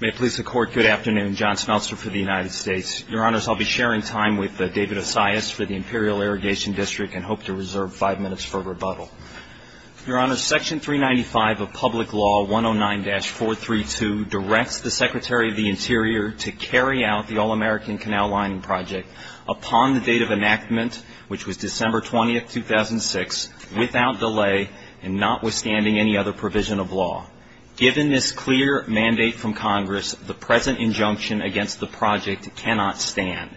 May it please the Court, good afternoon, John Smeltzer for the United States. Your Honors, I'll be sharing time with David Osias for the Imperial Irrigation District and hope to reserve five minutes for rebuttal. Your Honors, Section 395 of Public Law 109-432 directs the Secretary of the Interior to carry out the All-American Canal Lining Project upon the date of enactment, which was December 20, 2006, without delay and notwithstanding any other provision of law. Given this clear mandate from Congress, the present injunction against the project cannot stand.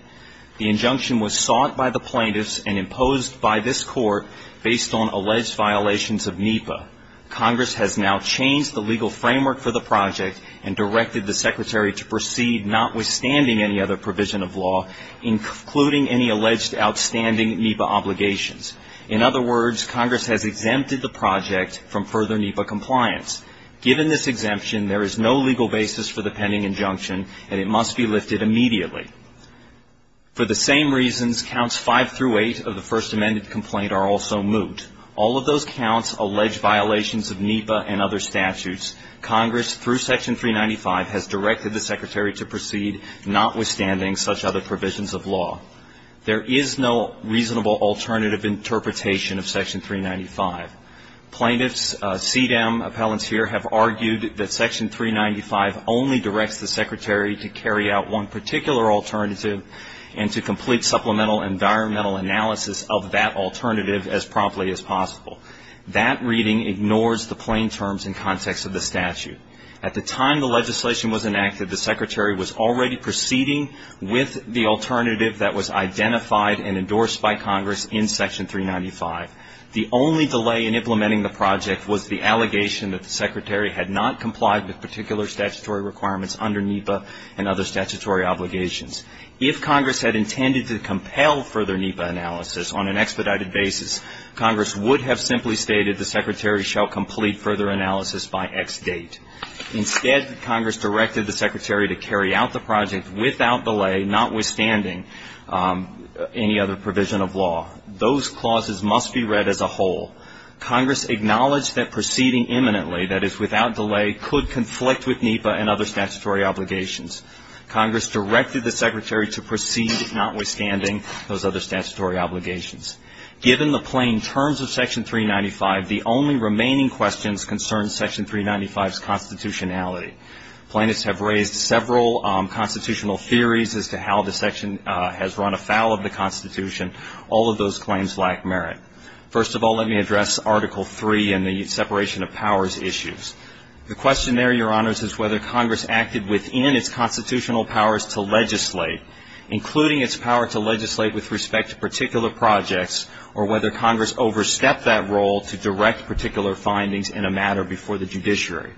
The injunction was sought by the plaintiffs and imposed by this Court based on alleged violations of NEPA. Congress has now changed the legal framework for the project and directed the Secretary to proceed notwithstanding any other provision of law, including any alleged outstanding NEPA obligations. In other words, Congress has exempted the project from further NEPA compliance. Given this exemption, there is no legal basis for the pending injunction and it must be lifted immediately. For the same reasons, Counts 5 through 8 of the First Amended Complaint are also moot. All of those counts allege violations of NEPA and other statutes. Congress, through Section 395, has directed the Secretary to proceed notwithstanding such other provisions of law. There is no reasonable alternative interpretation of Section 395. Plaintiffs, CDEM appellants here have argued that Section 395 only directs the Secretary to carry out one particular alternative and to complete supplemental environmental analysis of that alternative as promptly as possible. That reading ignores the plain terms and context of the statute. At the time the legislation was enacted, the Secretary was already proceeding with the alternative that was identified and endorsed by Congress in Section 395. The only delay in implementing the project was the allegation that the Secretary had not complied with particular statutory requirements under NEPA and other statutory obligations. If Congress had intended to compel further NEPA analysis on an expedited basis, Congress would have simply stated the Secretary shall complete further analysis by X date. Instead, Congress directed the Secretary to carry out the project without delay, notwithstanding any other provision of law. Those clauses must be read as a whole. Congress acknowledged that proceeding imminently, that is, without delay, could conflict with NEPA and other statutory obligations. Congress directed the Secretary to proceed notwithstanding those other statutory obligations. Given the plain terms of Section 395, the only remaining questions concern Section 395's constitutionality. Plaintiffs have raised several constitutional theories as to how the section has run afoul of the Constitution. All of those claims lack merit. First of all, let me address Article III and the separation of powers issues. The question there, Your Honors, is whether Congress acted within its constitutional powers to legislate, including its power to legislate with respect to particular projects, or whether Congress overstepped that role to direct particular findings in a matter before the judiciary.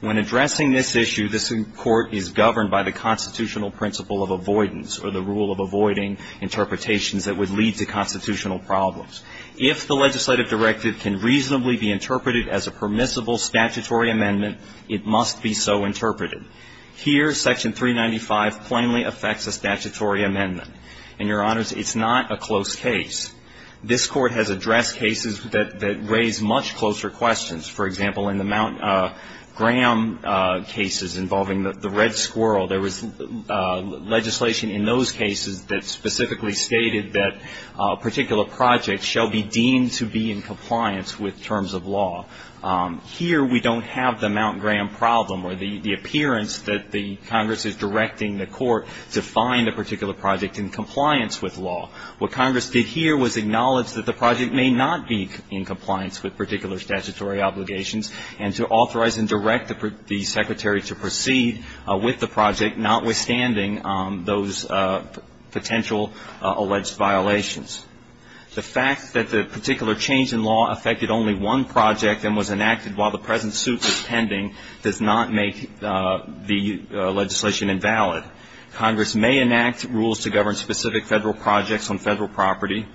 When addressing this issue, this Court is governed by the constitutional principle of avoidance, or the rule of avoiding interpretations that would lead to constitutional problems. If the legislative directive can reasonably be interpreted as a permissible statutory amendment, it must be so interpreted. Here, Section 395 plainly affects a statutory amendment. And, Your Honors, it's not a close case. This Court has addressed cases that raise much closer questions. For example, in the Mount Graham cases involving the Red Squirrel, there was legislation in those cases that specifically stated that a particular project shall be deemed to be in compliance with terms of law. Here, we don't have the Mount Graham problem or the appearance that the Congress is directing the Court to find a particular project in compliance with law. What Congress did here was acknowledge that the project may not be in compliance with particular statutory obligations and to authorize and direct the secretary to proceed with the project, notwithstanding those potential alleged violations. The fact that the particular change in law affected only one project and was enacted while the present suit was pending does not make the legislation invalid. Congress may enact rules to govern specific Federal projects on Federal property,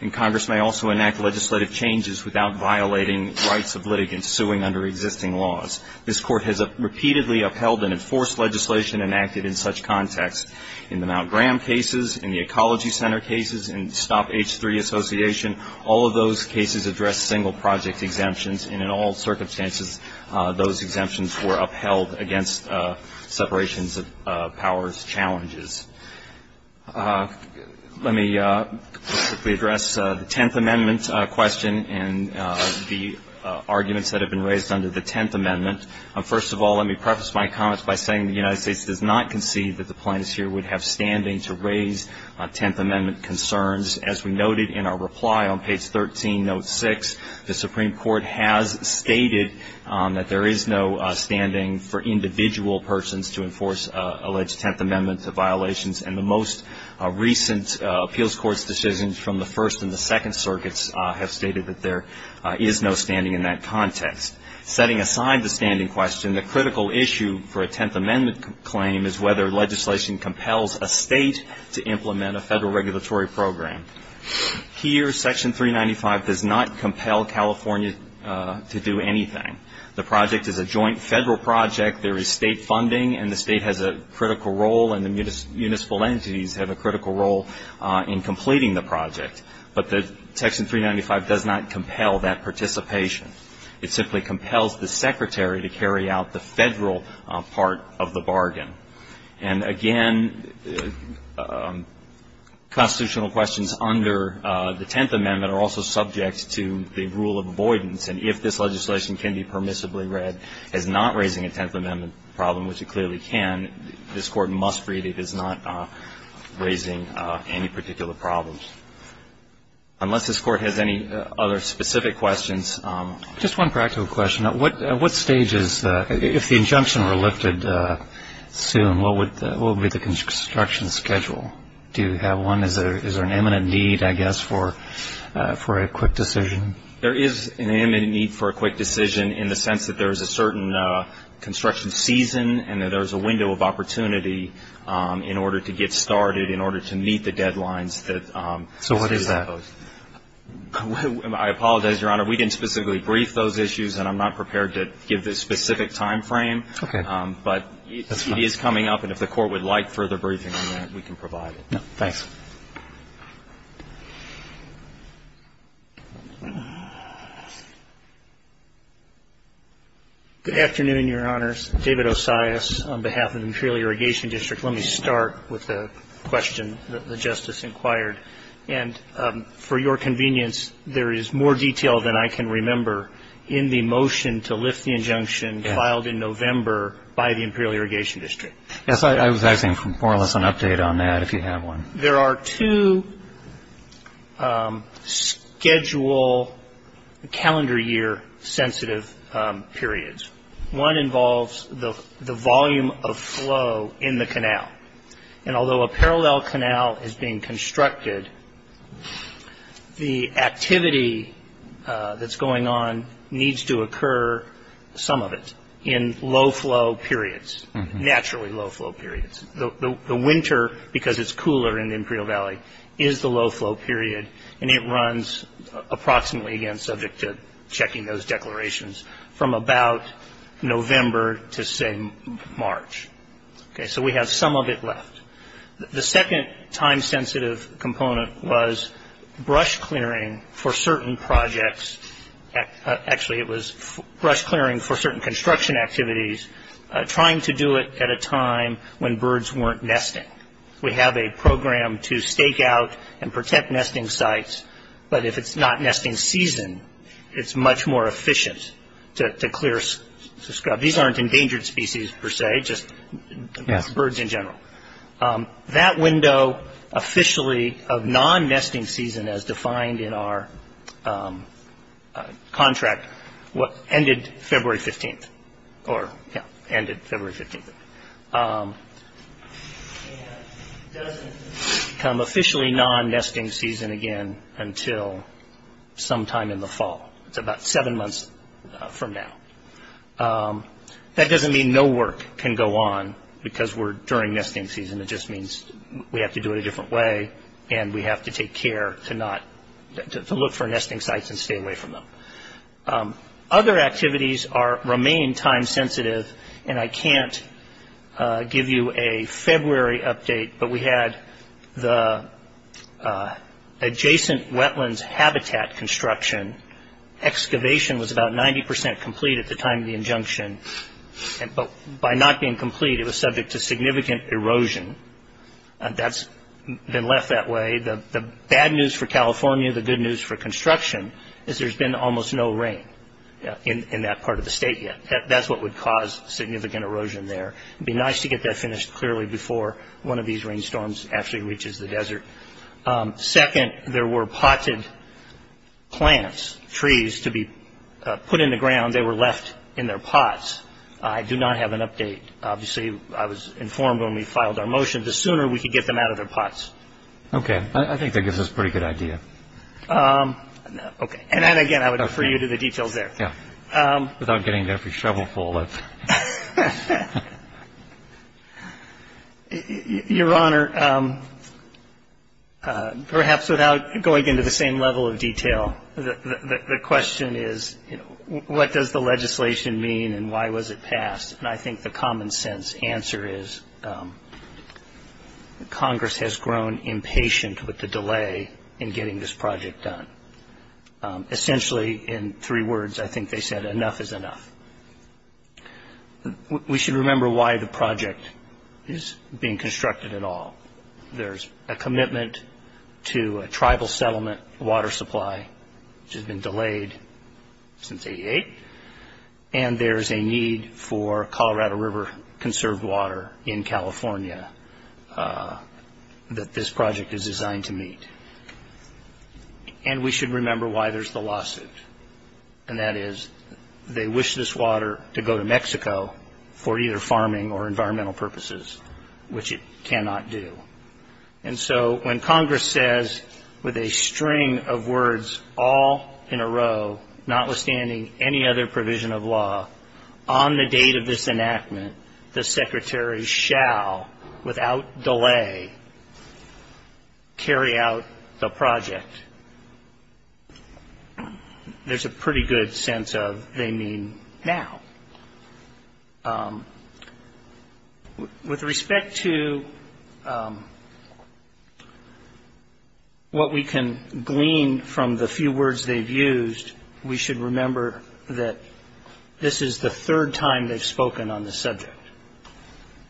and Congress may also enact legislative changes without violating rights of litigants suing under existing laws. This Court has repeatedly upheld and enforced legislation enacted in such context. In the Mount Graham cases, in the Ecology Center cases, in Stop H3 Association, all of those cases addressed single project exemptions, and in all circumstances, those exemptions were upheld against separations of powers challenges. Let me quickly address the Tenth Amendment question and the arguments that have been raised under the Tenth Amendment. First of all, let me preface my comments by saying the United States does not concede that the plaintiffs here would have standing to raise Tenth Amendment concerns. As we noted in our reply on page 13, note 6, the Supreme Court has stated that there is no standing for individual persons to enforce alleged Tenth Amendment violations, and the most recent appeals court's decisions from the First and the Second Circuits have stated that there is no standing in that context. Setting aside the standing question, the critical issue for a Tenth Amendment claim is whether legislation compels a State to implement a Federal regulatory program. Here, Section 395 does not compel California to do anything. The project is a joint Federal project. There is State funding, and the State has a critical role, and the municipal entities have a critical role in completing the project. But Section 395 does not compel that participation. It simply compels the Secretary to carry out the Federal part of the bargain. And again, constitutional questions under the Tenth Amendment are also subject to the rule of avoidance, and if this legislation can be permissibly read as not raising a Tenth Amendment problem, which it clearly can, this Court must read it as not raising any particular problems. Unless this Court has any other specific questions. Just one practical question. At what stages, if the injunction were lifted soon, what would be the construction schedule? Do you have one? Is there an imminent need, I guess, for a quick decision? There is an imminent need for a quick decision in the sense that there is a certain construction season and that there is a window of opportunity in order to get started, in order to meet the deadlines. So what is that? I apologize, Your Honor. We didn't specifically brief those issues, and I'm not prepared to give the specific time frame. Okay. But it is coming up, and if the Court would like further briefing on that, we can provide it. Thanks. Good afternoon, Your Honors. David Osias on behalf of the Material Irrigation District. Let me start with a question that the Justice inquired. And for your convenience, there is more detail than I can remember in the motion to lift the injunction filed in November by the Imperial Irrigation District. Yes, I was asking for more or less an update on that, if you have one. There are two schedule calendar year sensitive periods. One involves the volume of flow in the canal. And although a parallel canal is being constructed, the activity that's going on needs to occur, some of it, in low-flow periods, naturally low-flow periods. The winter, because it's cooler in the Imperial Valley, is the low-flow period, and it runs approximately, again, subject to checking those declarations, from about November to, say, March. Okay, so we have some of it left. The second time-sensitive component was brush clearing for certain projects. Actually, it was brush clearing for certain construction activities, trying to do it at a time when birds weren't nesting. We have a program to stake out and protect nesting sites, but if it's not nesting season, it's much more efficient to clear scrub. These aren't endangered species, per se, just birds in general. That window officially of non-nesting season, as defined in our contract, ended February 15th, or, yeah, ended February 15th. It doesn't become officially non-nesting season again until sometime in the fall. It's about seven months from now. That doesn't mean no work can go on because we're during nesting season. It just means we have to do it a different way, and we have to take care to look for nesting sites and stay away from them. Other activities remain time-sensitive, and I can't give you a February update, but we had the adjacent wetlands habitat construction. Excavation was about 90 percent complete at the time of the injunction, but by not being complete, it was subject to significant erosion. That's been left that way. The bad news for California, the good news for construction, is there's been almost no rain in that part of the state yet. That's what would cause significant erosion there. It would be nice to get that finished clearly before one of these rainstorms actually reaches the desert. Second, there were potted plants, trees, to be put in the ground. They were left in their pots. I do not have an update. Obviously, I was informed when we filed our motion, the sooner we could get them out of their pots. Okay. I think that gives us a pretty good idea. Okay. And, again, I would refer you to the details there. Without getting every shovel full. Your Honor, perhaps without going into the same level of detail, the question is what does the legislation mean and why was it passed? And I think the common sense answer is Congress has grown impatient with the delay in getting this project done. Essentially, in three words, I think they said enough is enough. We should remember why the project is being constructed at all. There's a commitment to a tribal settlement water supply, which has been delayed since 1988, and there is a need for Colorado River conserved water in California that this project is designed to meet. And we should remember why there's the lawsuit, and that is they wish this water to go to Mexico for either farming or environmental purposes, which it cannot do. And so when Congress says with a string of words all in a row, notwithstanding any other provision of law, on the date of this enactment, the Secretary shall, without delay, carry out the project, there's a pretty good sense of they mean now. With respect to what we can glean from the few words they've used, we should remember that this is the third time they've spoken on this subject.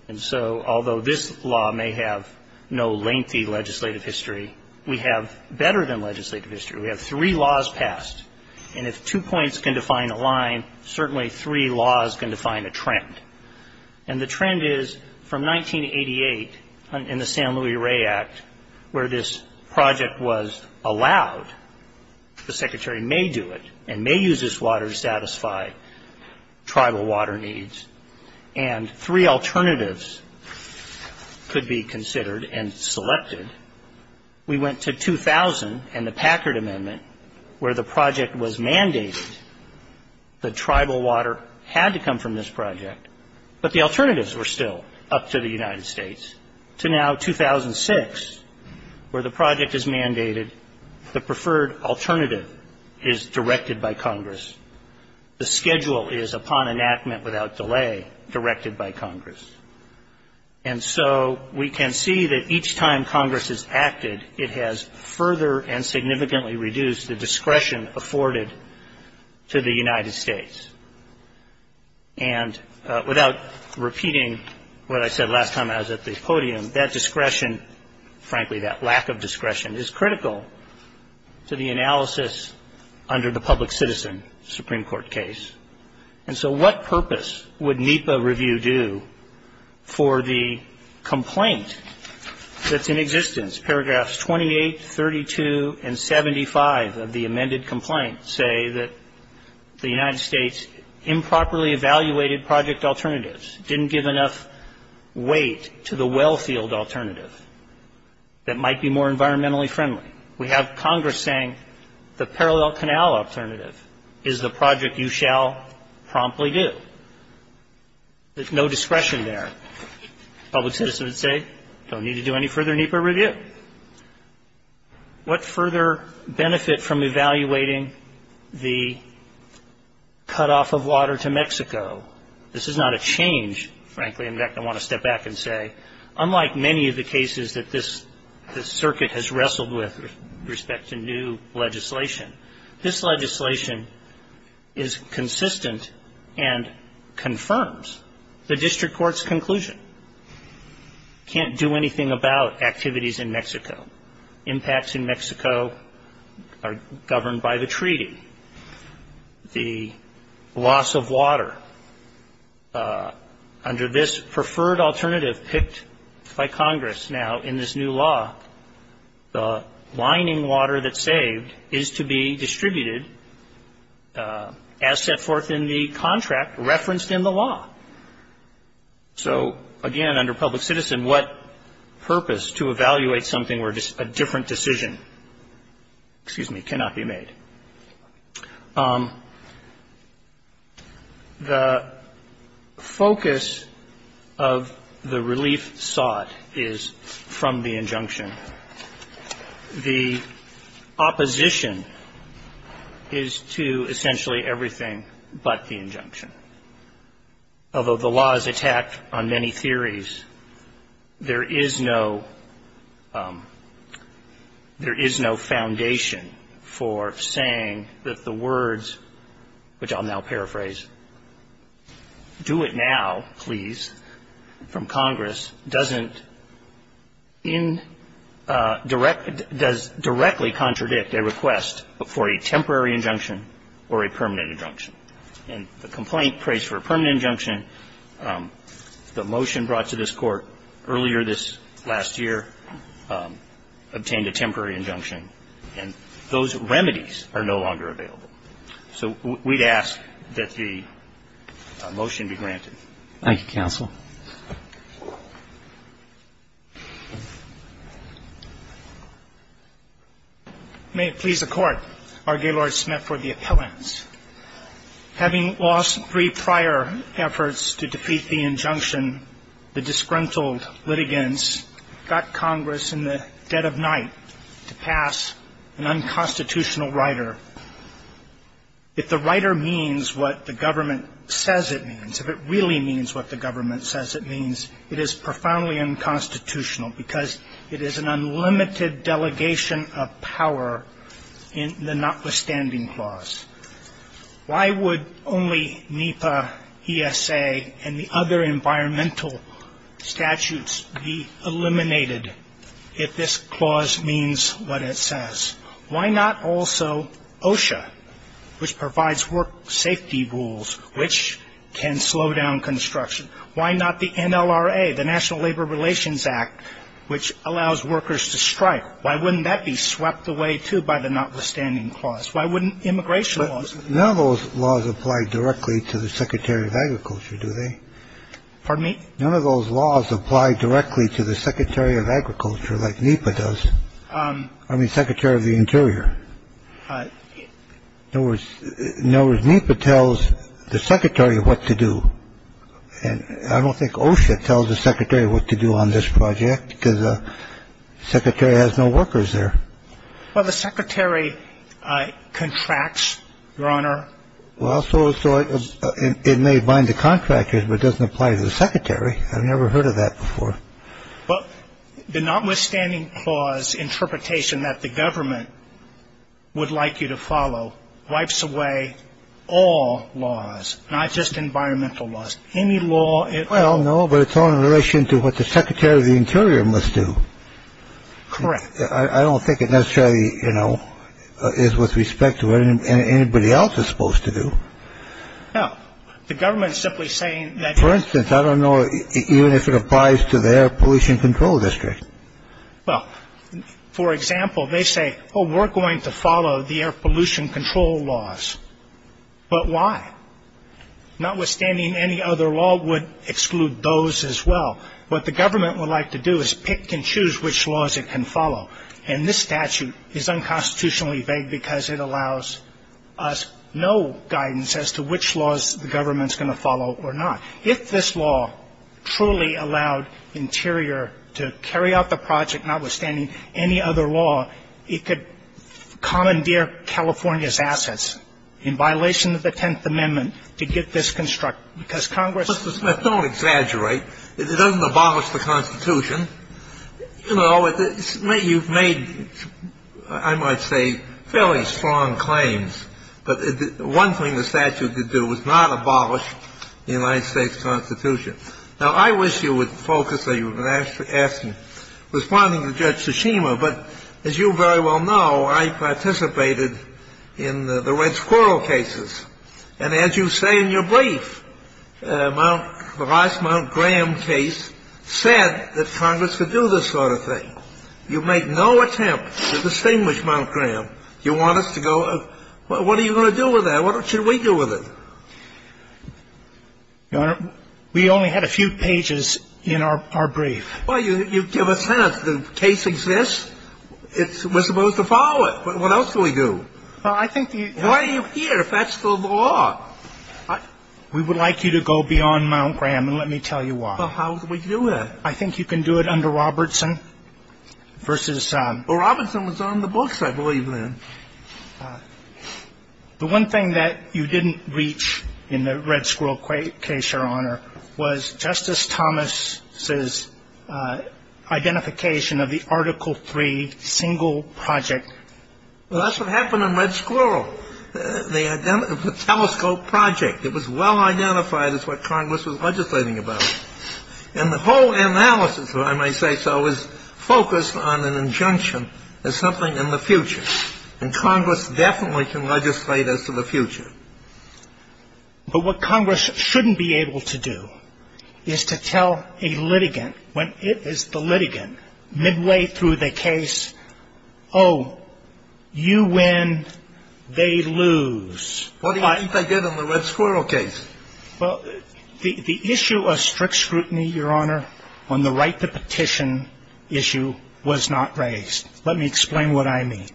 And so although this law may have no lengthy legislative history, we have better than legislative history. We have three laws passed, and if two points can define a line, certainly three laws can define a trend. And the trend is from 1988 in the San Luis Rey Act, where this project was allowed, the Secretary may do it and may use this water to satisfy tribal water needs, and three alternatives could be considered and selected. We went to 2000 in the Packard Amendment, where the project was mandated. The tribal water had to come from this project, but the alternatives were still up to the United States, to now 2006, where the project is mandated. The preferred alternative is directed by Congress. The schedule is, upon enactment without delay, directed by Congress. And so we can see that each time Congress has acted, it has further and significantly reduced the discretion afforded to the United States. And without repeating what I said last time I was at the podium, that discretion, frankly, that lack of discretion, is critical to the analysis under the public citizen Supreme Court case. And so what purpose would NEPA review do for the complaint that's in existence? Paragraphs 28, 32, and 75 of the amended complaint say that the United States improperly evaluated project alternatives, didn't give enough weight to the well field alternative that might be more environmentally friendly. We have Congress saying the parallel canal alternative is the project you shall promptly do. There's no discretion there. Public citizens say, don't need to do any further NEPA review. What further benefit from evaluating the cutoff of water to Mexico? This is not a change, frankly. In fact, I want to step back and say, unlike many of the cases that this circuit has wrestled with with respect to new legislation, this legislation is consistent and confirms. The district court's conclusion can't do anything about activities in Mexico. Impacts in Mexico are governed by the treaty. The loss of water under this preferred alternative picked by Congress now in this new law, the lining water that's saved is to be distributed as set forth in the contract referenced in the law. So, again, under public citizen, what purpose to evaluate something where a different decision, excuse me, cannot be made? The focus of the relief sought is from the injunction. The opposition is to essentially everything but the injunction. Although the law is attacked on many theories, there is no foundation for saying that the words, which I'll now paraphrase, do it now, please, from Congress, does directly contradict a request for a temporary injunction or a permanent injunction. And the complaint prays for a permanent injunction. The motion brought to this Court earlier this last year obtained a temporary injunction. And those remedies are no longer available. So we'd ask that the motion be granted. Thank you, counsel. May it please the Court, R. Gaylord Smith for the appellants. Having lost three prior efforts to defeat the injunction, the disgruntled litigants got Congress in the dead of night to pass an unconstitutional rider. If the rider means what the government says it means, if it really means what the government says it means, it is profoundly unconstitutional because it is an unlimited delegation of power in the notwithstanding clause. Why would only NEPA, ESA, and the other environmental statutes be eliminated if this clause means what it says? Why not also OSHA, which provides work safety rules, which can slow down construction? Why not the NLRA, the National Labor Relations Act, which allows workers to strike? Why wouldn't that be swept away, too, by the notwithstanding clause? Why wouldn't immigration laws? None of those laws apply directly to the Secretary of Agriculture, do they? Pardon me? None of those laws apply directly to the Secretary of Agriculture like NEPA does. I mean, Secretary of the Interior. In other words, NEPA tells the Secretary what to do. And I don't think OSHA tells the Secretary what to do on this project because the Secretary has no workers there. Well, the Secretary contracts, Your Honor. Well, so it may bind the contractors, but it doesn't apply to the Secretary. I've never heard of that before. Well, the notwithstanding clause interpretation that the government would like you to follow wipes away all laws, not just environmental laws. Any law at all. Well, no, but it's all in relation to what the Secretary of the Interior must do. Correct. I don't think it necessarily, you know, is with respect to what anybody else is supposed to do. No. The government is simply saying that. For instance, I don't know even if it applies to their pollution control district. Well, for example, they say, oh, we're going to follow the air pollution control laws. But why? Notwithstanding any other law would exclude those as well. What the government would like to do is pick and choose which laws it can follow. And this statute is unconstitutionally vague because it allows us no guidance as to which laws the government's going to follow or not. If this law truly allowed Interior to carry out the project, notwithstanding any other law, it could commandeer California's assets in violation of the Tenth Amendment to get this constructed. Because Congress ---- Mr. Smith, don't exaggerate. It doesn't abolish the Constitution. You know, you've made, I might say, fairly strong claims. But one thing the statute could do is not abolish the United States Constitution. Now, I wish you would focus on your question, responding to Judge Tsushima. But as you very well know, I participated in the Red Squirrel cases. And as you say in your brief, the last Mount Graham case said that Congress could do this sort of thing. You make no attempt to distinguish Mount Graham. You want us to go, well, what are you going to do with that? What should we do with it? Your Honor, we only had a few pages in our brief. Well, you give us that. The case exists. We're supposed to follow it. What else do we do? Well, I think the ---- Why are you here if that's the law? We would like you to go beyond Mount Graham, and let me tell you why. Well, how do we do that? I think you can do it under Robertson versus ---- Well, Robertson was on the books, I believe, then. The one thing that you didn't reach in the Red Squirrel case, Your Honor, was Justice Thomas's identification of the Article III single project. Well, that's what happened in Red Squirrel, the telescope project. It was well identified as what Congress was legislating about. And the whole analysis, if I may say so, is focused on an injunction as something in the future. And Congress definitely can legislate as to the future. But what Congress shouldn't be able to do is to tell a litigant, when it is the litigant, midway through the case, oh, you win, they lose. What do you think they did in the Red Squirrel case? Well, the issue of strict scrutiny, Your Honor, on the right to petition issue was not raised. Let me explain what I mean.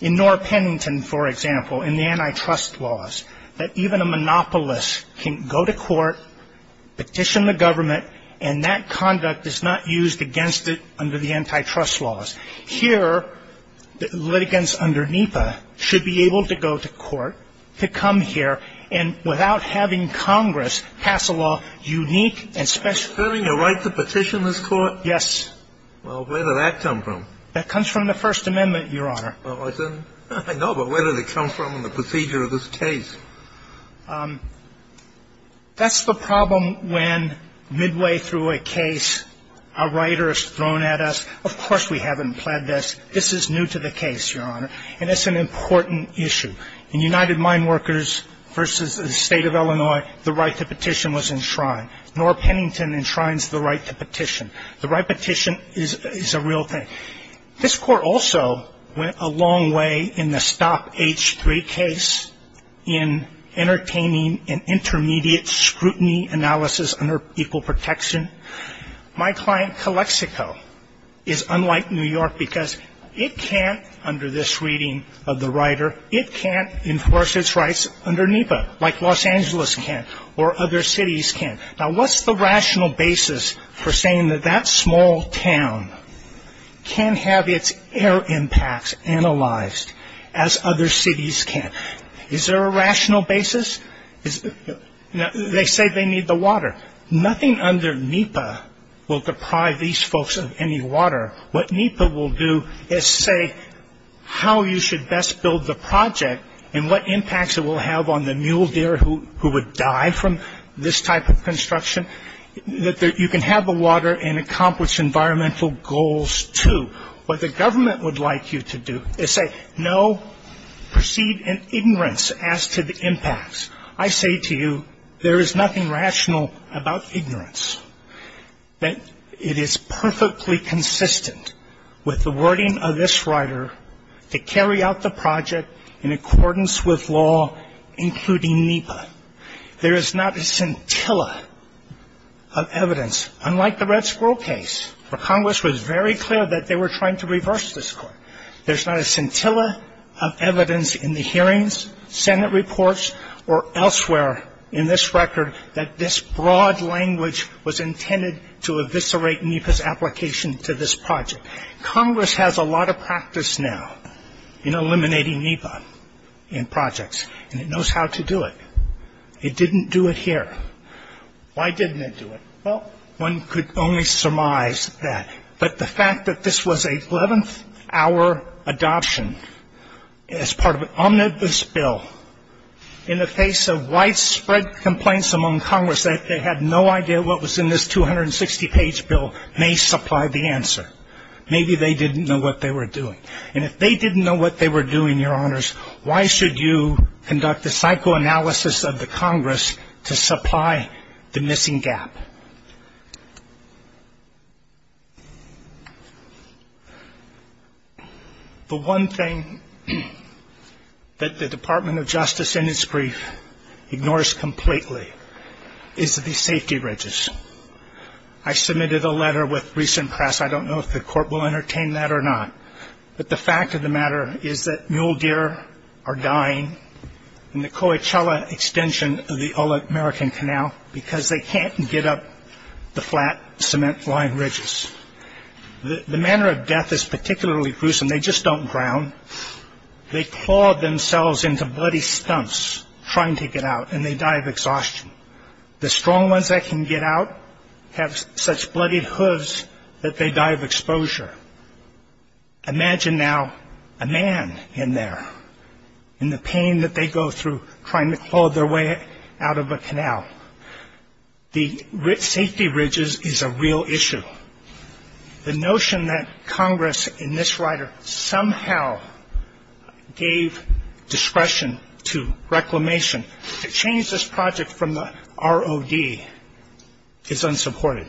In Norr Pennington, for example, in the antitrust laws, that even a monopolist can go to court, petition the government, and that conduct is not used against it under the antitrust laws. Here, litigants under NEPA should be able to go to court, to come here, and without having Congress pass a law unique and special. Asserting a right to petition this Court? Yes. Well, where did that come from? That comes from the First Amendment, Your Honor. I know, but where did it come from in the procedure of this case? That's the problem when midway through a case, a writer is thrown at us. Of course we haven't planned this. This is new to the case, Your Honor, and it's an important issue. In United Mine Workers v. State of Illinois, the right to petition was enshrined. Norr Pennington enshrines the right to petition. The right to petition is a real thing. This Court also went a long way in the Stop H3 case in entertaining an intermediate scrutiny analysis under equal protection. My client, Calexico, is unlike New York because it can't, under this reading of the writer, it can't enforce its rights under NEPA like Los Angeles can or other cities can. Now, what's the rational basis for saying that that small town can have its air impacts analyzed as other cities can? Is there a rational basis? They say they need the water. Nothing under NEPA will deprive these folks of any water. What NEPA will do is say how you should best build the project and what impacts it will have on the mule deer who would die from this type of construction, that you can have the water and accomplish environmental goals too. What the government would like you to do is say no, proceed in ignorance as to the impacts. I say to you, there is nothing rational about ignorance. It is perfectly consistent with the wording of this writer to carry out the project in accordance with law, including NEPA. There is not a scintilla of evidence, unlike the Red Squirrel case, where Congress was very clear that they were trying to reverse this Court. There's not a scintilla of evidence in the hearings, Senate reports, or elsewhere in this record that this broad language was intended to eviscerate NEPA's application to this project. Congress has a lot of practice now in eliminating NEPA in projects, and it knows how to do it. It didn't do it here. Why didn't it do it? Well, one could only surmise that. But the fact that this was a 11th-hour adoption as part of an omnibus bill, in the face of widespread complaints among Congress that they had no idea what was in this 260-page bill, may supply the answer. Maybe they didn't know what they were doing. And if they didn't know what they were doing, Your Honors, why should you conduct the psychoanalysis of the Congress to supply the missing gap? The one thing that the Department of Justice, in its brief, ignores completely is the safety ridges. I submitted a letter with recent press. I don't know if the Court will entertain that or not. But the fact of the matter is that mule deer are dying in the Coachella extension of the American Canal because they can't get up the flat cement line ridges. The manner of death is particularly gruesome. They just don't drown. They claw themselves into bloody stumps trying to get out, and they die of exhaustion. The strong ones that can get out have such bloodied hooves that they die of exposure. Imagine now a man in there in the pain that they go through trying to claw their way out of a canal. The safety ridges is a real issue. The notion that Congress in this rider somehow gave discretion to reclamation to change this project from the ROD is unsupported.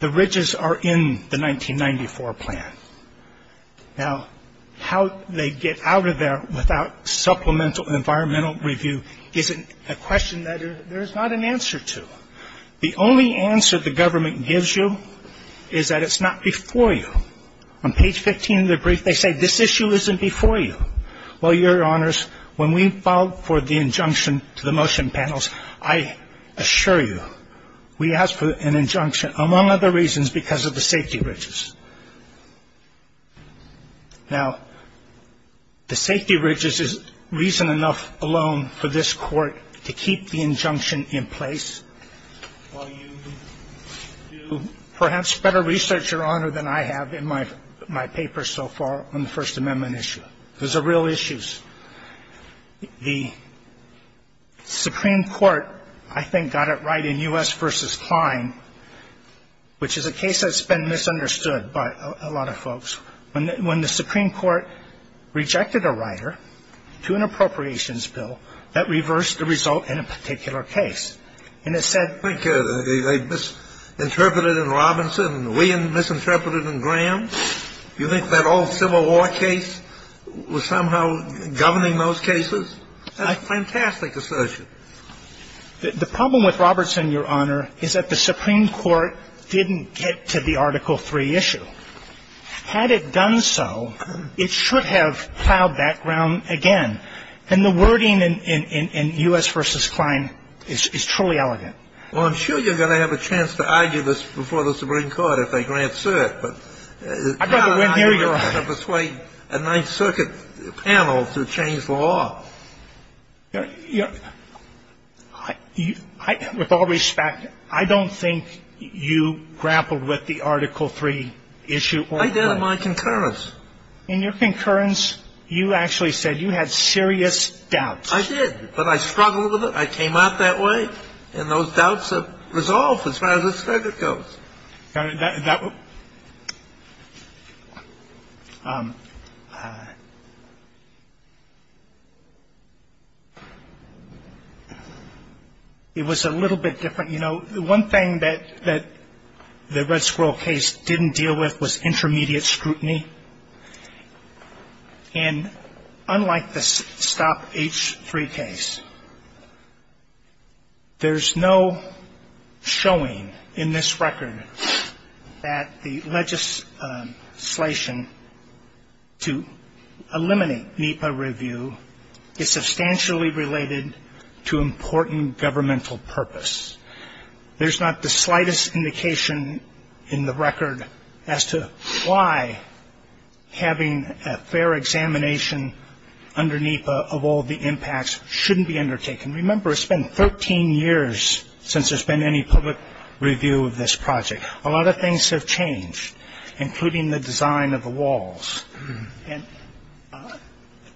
The ridges are in the 1994 plan. Now, how they get out of there without supplemental environmental review is a question that there is not an answer to. The only answer the government gives you is that it's not before you. On page 15 of the brief, they say this issue isn't before you. Well, Your Honors, when we filed for the injunction to the motion panels, I assure you, we asked for an injunction among other reasons because of the safety ridges. Now, the safety ridges is reason enough alone for this court to keep the injunction in place while you do perhaps better research, Your Honor, than I have in my paper so far on the First Amendment issue. Those are real issues. The Supreme Court, I think, got it right in U.S. v. Klein, which is a case that's been misunderstood by a lot of folks. When the Supreme Court rejected a rider to an appropriations bill, that reversed the result in a particular case. And it said they misinterpreted in Robinson and we misinterpreted in Graham. You think that old Civil War case was somehow governing those cases? A fantastic assertion. The problem with Robertson, Your Honor, is that the Supreme Court didn't get to the Article III issue. Had it done so, it should have plowed that ground again. And the wording in U.S. v. Klein is truly elegant. Well, I'm sure you're going to have a chance to argue this before the Supreme Court if they grant cert. I'd rather wait here, Your Honor. I'm going to have to persuade a Ninth Circuit panel to change the law. With all respect, I don't think you grappled with the Article III issue. I did in my concurrence. In your concurrence, you actually said you had serious doubts. I did. But I struggled with it. I came out that way. And those doubts are resolved as far as the circuit goes. It was a little bit different. You know, one thing that the Red Squirrel case didn't deal with was intermediate scrutiny. And unlike the Stop H3 case, there's no showing in this record that the legislation to eliminate NEPA review is substantially related to important governmental purpose. There's not the slightest indication in the record as to why having a fair examination underneath of all the impacts shouldn't be undertaken. Remember, it's been 13 years since there's been any public review of this project. A lot of things have changed, including the design of the walls. And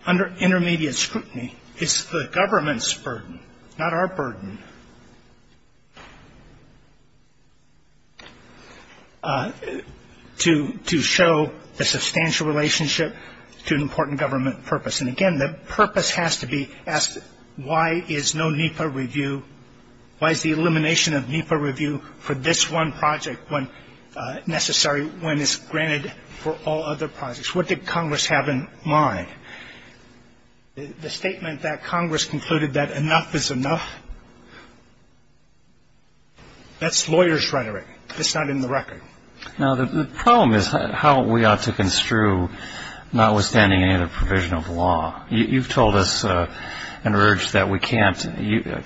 under intermediate scrutiny, it's the government's burden, not our burden, to show a substantial relationship to an important government purpose. And, again, the purpose has to be asked, why is no NEPA review, why is the elimination of NEPA review for this one project necessary when it's granted for all other projects? What did Congress have in mind? The statement that Congress concluded that enough is enough, that's lawyer's rhetoric. It's not in the record. Now, the problem is how we ought to construe, notwithstanding any other provision of law. You've told us and urged that we can't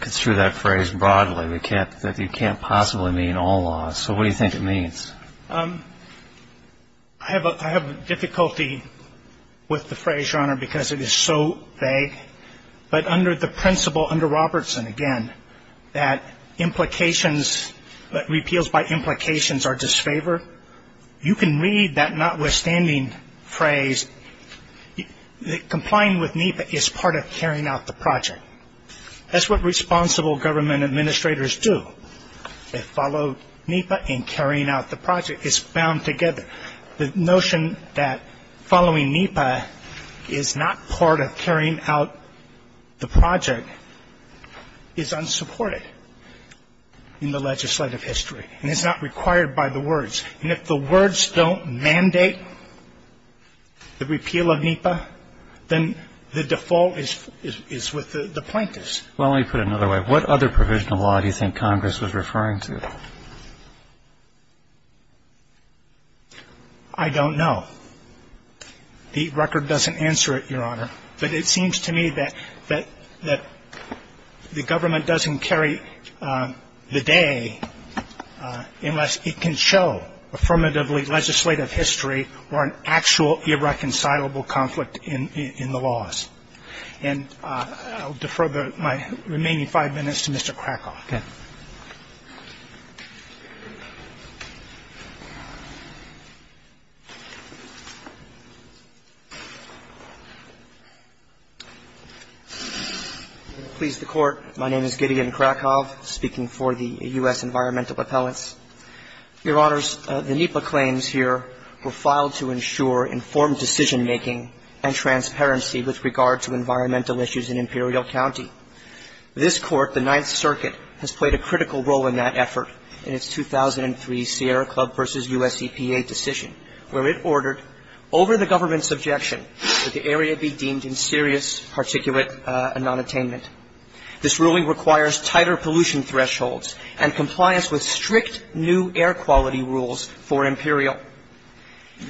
construe that phrase broadly, that you can't possibly mean all laws. So what do you think it means? I have difficulty with the phrase, Your Honor, because it is so vague. But under the principle, under Robertson, again, that implications, that repeals by implications are disfavored, you can read that notwithstanding phrase, complying with NEPA is part of carrying out the project. That's what responsible government administrators do. They follow NEPA in carrying out the project. It's bound together. The notion that following NEPA is not part of carrying out the project is unsupported in the legislative history and is not required by the words. And if the words don't mandate the repeal of NEPA, then the default is with the plaintiffs. Well, let me put it another way. I don't know. The record doesn't answer it, Your Honor. But it seems to me that the government doesn't carry the day unless it can show affirmatively legislative history or an actual irreconcilable conflict in the laws. And I'll defer my remaining five minutes to Mr. Krakow. Mr. Krakow. I'm going to please the Court. My name is Gideon Krakow, speaking for the U.S. Environmental Appellants. Your Honors, the NEPA claims here were filed to ensure informed decision-making and transparency with regard to environmental issues in Imperial County. I've heard this case before. It is a case of coercion, where it ordered over the government's objection that the area be deemed in serious particulate nonattainment. This ruling requires tighter pollution thresholds and compliance with strict new air quality rules for Imperial.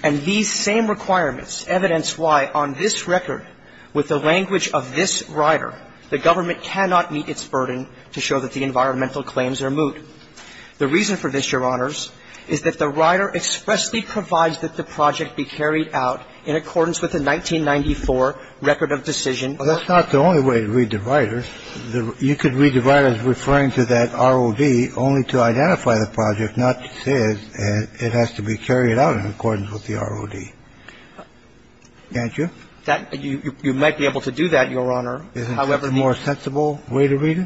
And these same requirements evidence why, on this record, with the language of this rider, the government cannot meet its burden to show that the environmental claims are moot. The reason for this, Your Honors, is that the rider expressly provides that the project be carried out in accordance with the 1994 Record of Decision. Well, that's not the only way to read the riders. You could read the riders referring to that ROD only to identify the project, not to say it has to be carried out in accordance with the ROD. Can't you? You might be able to do that, Your Honor. Isn't that a more sensible way to read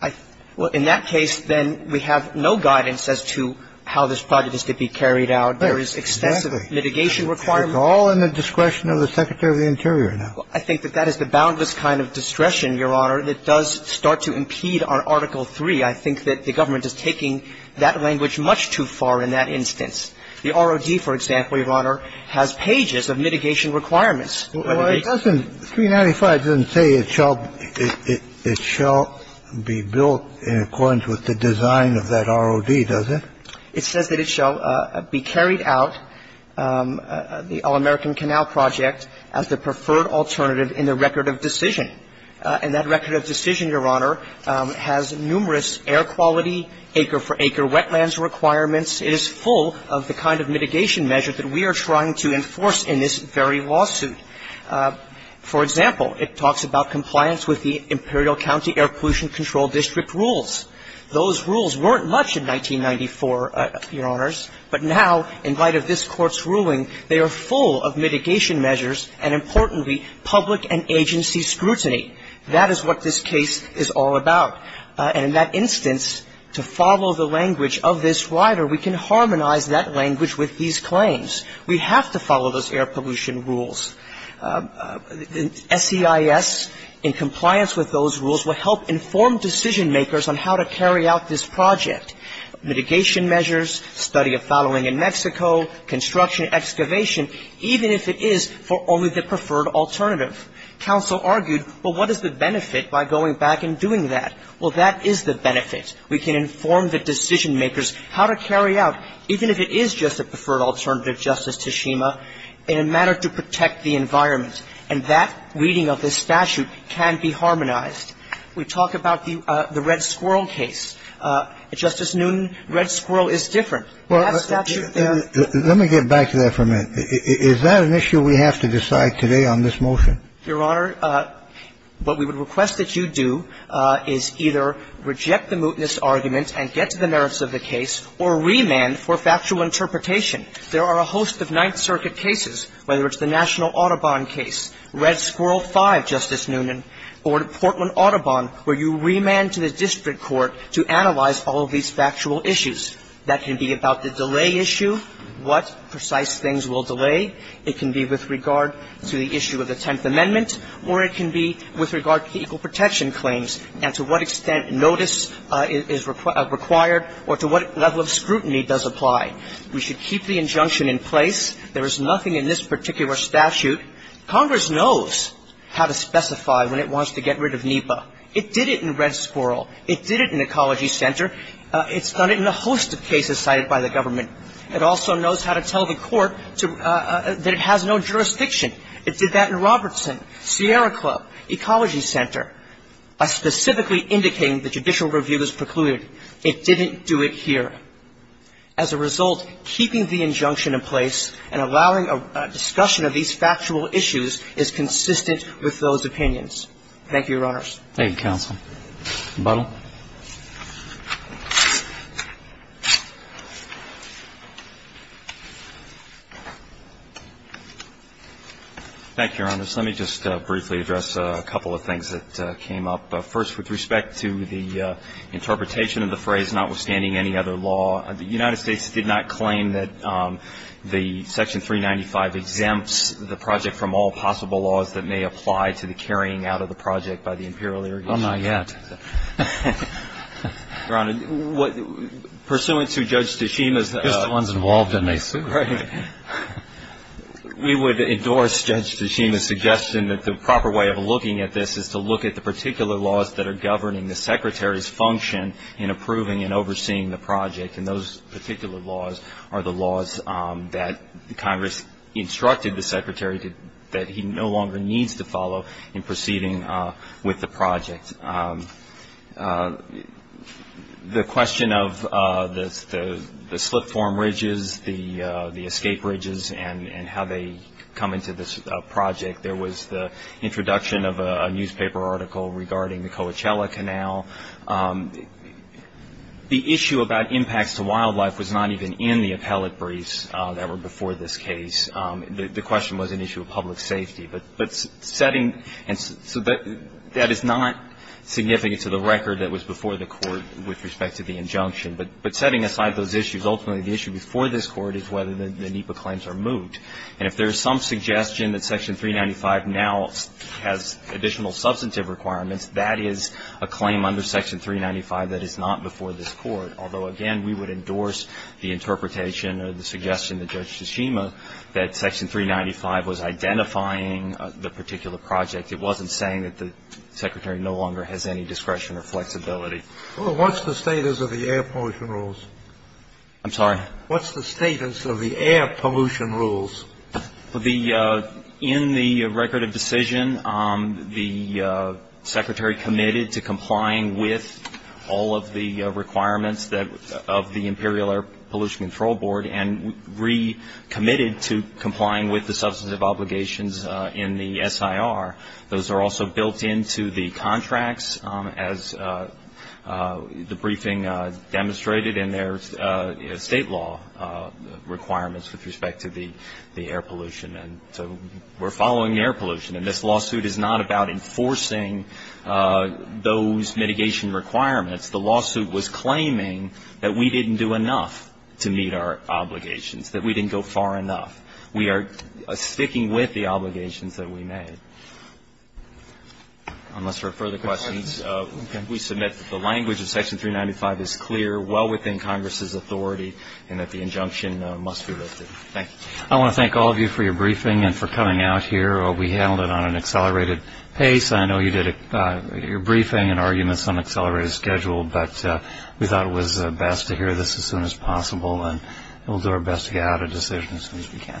it? Well, in that case, then, we have no guidance as to how this project is to be carried out. There is extensive mitigation requirement. It's all in the discretion of the Secretary of the Interior now. I think that that is the boundless kind of discretion, Your Honor, that does start to impede our Article 3. I think that the government is taking that language much too far in that instance. The ROD, for example, Your Honor, has pages of mitigation requirements. Well, it doesn't – 395 doesn't say it shall be built in accordance with the design of that ROD, does it? It says that it shall be carried out, the All-American Canal Project, as the preferred alternative in the record of decision. And that record of decision, Your Honor, has numerous air quality, acre-for-acre wetlands requirements. It is full of the kind of mitigation measure that we are trying to enforce in this very lawsuit. For example, it talks about compliance with the Imperial County Air Pollution Control District rules. Those rules weren't much in 1994, Your Honors, but now, in light of this Court's ruling, they are full of mitigation measures and, importantly, public and agency scrutiny. That is what this case is all about. And in that instance, to follow the language of this rider, we can harmonize that language with these claims. We have to follow those air pollution rules. The SEIS, in compliance with those rules, will help inform decision-makers on how to carry out this project, mitigation measures, study of following in Mexico, construction, excavation, even if it is for only the preferred alternative. Counsel argued, well, what is the benefit by going back and doing that? Well, that is the benefit. We can inform the decision-makers how to carry out, even if it is just a preferred alternative, Justice Tashima, in a manner to protect the environment. And that reading of this statute can be harmonized. We talk about the Red Squirrel case. Justice Newton, Red Squirrel is different. That statute there — Let me get back to that for a minute. Is that an issue we have to decide today on this motion? Your Honor, what we would request that you do is either reject the mootness argument and get to the merits of the case or remand for factual interpretation. There are a host of Ninth Circuit cases, whether it's the National Audubon case, Red Squirrel V, Justice Newton, or the Portland Audubon, where you remand to the district court to analyze all of these factual issues. That can be about the delay issue, what precise things will delay. It can be with regard to the issue of the Tenth Amendment, or it can be with regard to the equal protection claims and to what extent notice is required or to what level of scrutiny does apply. We should keep the injunction in place. There is nothing in this particular statute. Congress knows how to specify when it wants to get rid of NEPA. It did it in Red Squirrel. It did it in Ecology Center. It's done it in a host of cases cited by the government. It also knows how to tell the court to — that it has no jurisdiction. It did that in Robertson, Sierra Club, Ecology Center, by specifically indicating the judicial review was precluded. It didn't do it here. As a result, keeping the injunction in place and allowing a discussion of these factual issues is consistent with those opinions. Thank you, Your Honors. Thank you, counsel. Buttle. Thank you, Your Honors. Let me just briefly address a couple of things that came up. First, with respect to the interpretation of the phrase, notwithstanding any other law, the United States did not claim that the Section 395 exempts the project from all possible laws that may apply to the carrying out of the project by the imperial irrigation. Oh, not yet. Your Honor, pursuant to Judge Tashima's — Just the ones involved in this. Right. We would endorse Judge Tashima's suggestion that the proper way of looking at this is to look at the particular laws that are governing the Secretary's function in approving and overseeing the project, and those particular laws are the laws that Congress instructed the Secretary that he no longer needs to follow in proceeding with the project. The question of the slip form ridges, the escape ridges, and how they come into this project. There was the introduction of a newspaper article regarding the Coachella Canal. The issue about impacts to wildlife was not even in the appellate briefs that were before this case. The question was an issue of public safety. But setting — so that is not significant to the record that was before the court with respect to the injunction. But setting aside those issues, ultimately the issue before this Court is whether the NEPA claims are moved. And if there is some suggestion that Section 395 now has additional substantive requirements, that is a claim under Section 395 that is not before this Court. Although, again, we would endorse the interpretation or the suggestion of Judge Tashima that Section 395 was identifying the particular project. It wasn't saying that the Secretary no longer has any discretion or flexibility. Well, what's the status of the air pollution rules? I'm sorry? What's the status of the air pollution rules? In the record of decision, the Secretary committed to complying with all of the requirements of the Imperial Air Pollution Control Board and recommitted to complying with the substantive obligations in the SIR. Those are also built into the contracts as the briefing demonstrated in their state law requirements with respect to the air pollution. And so we're following the air pollution. And this lawsuit is not about enforcing those mitigation requirements. The lawsuit was claiming that we didn't do enough to meet our obligations, that we didn't go far enough. We are sticking with the obligations that we made. Unless there are further questions, we submit that the language of Section 395 is clear, well within Congress's authority, and that the injunction must be lifted. Thank you. I want to thank all of you for your briefing and for coming out here. We handled it on an accelerated pace. I know you did your briefing and arguments on an accelerated schedule, but we thought it was best to hear this as soon as possible, and we'll do our best to get out a decision as soon as we can. Thank you.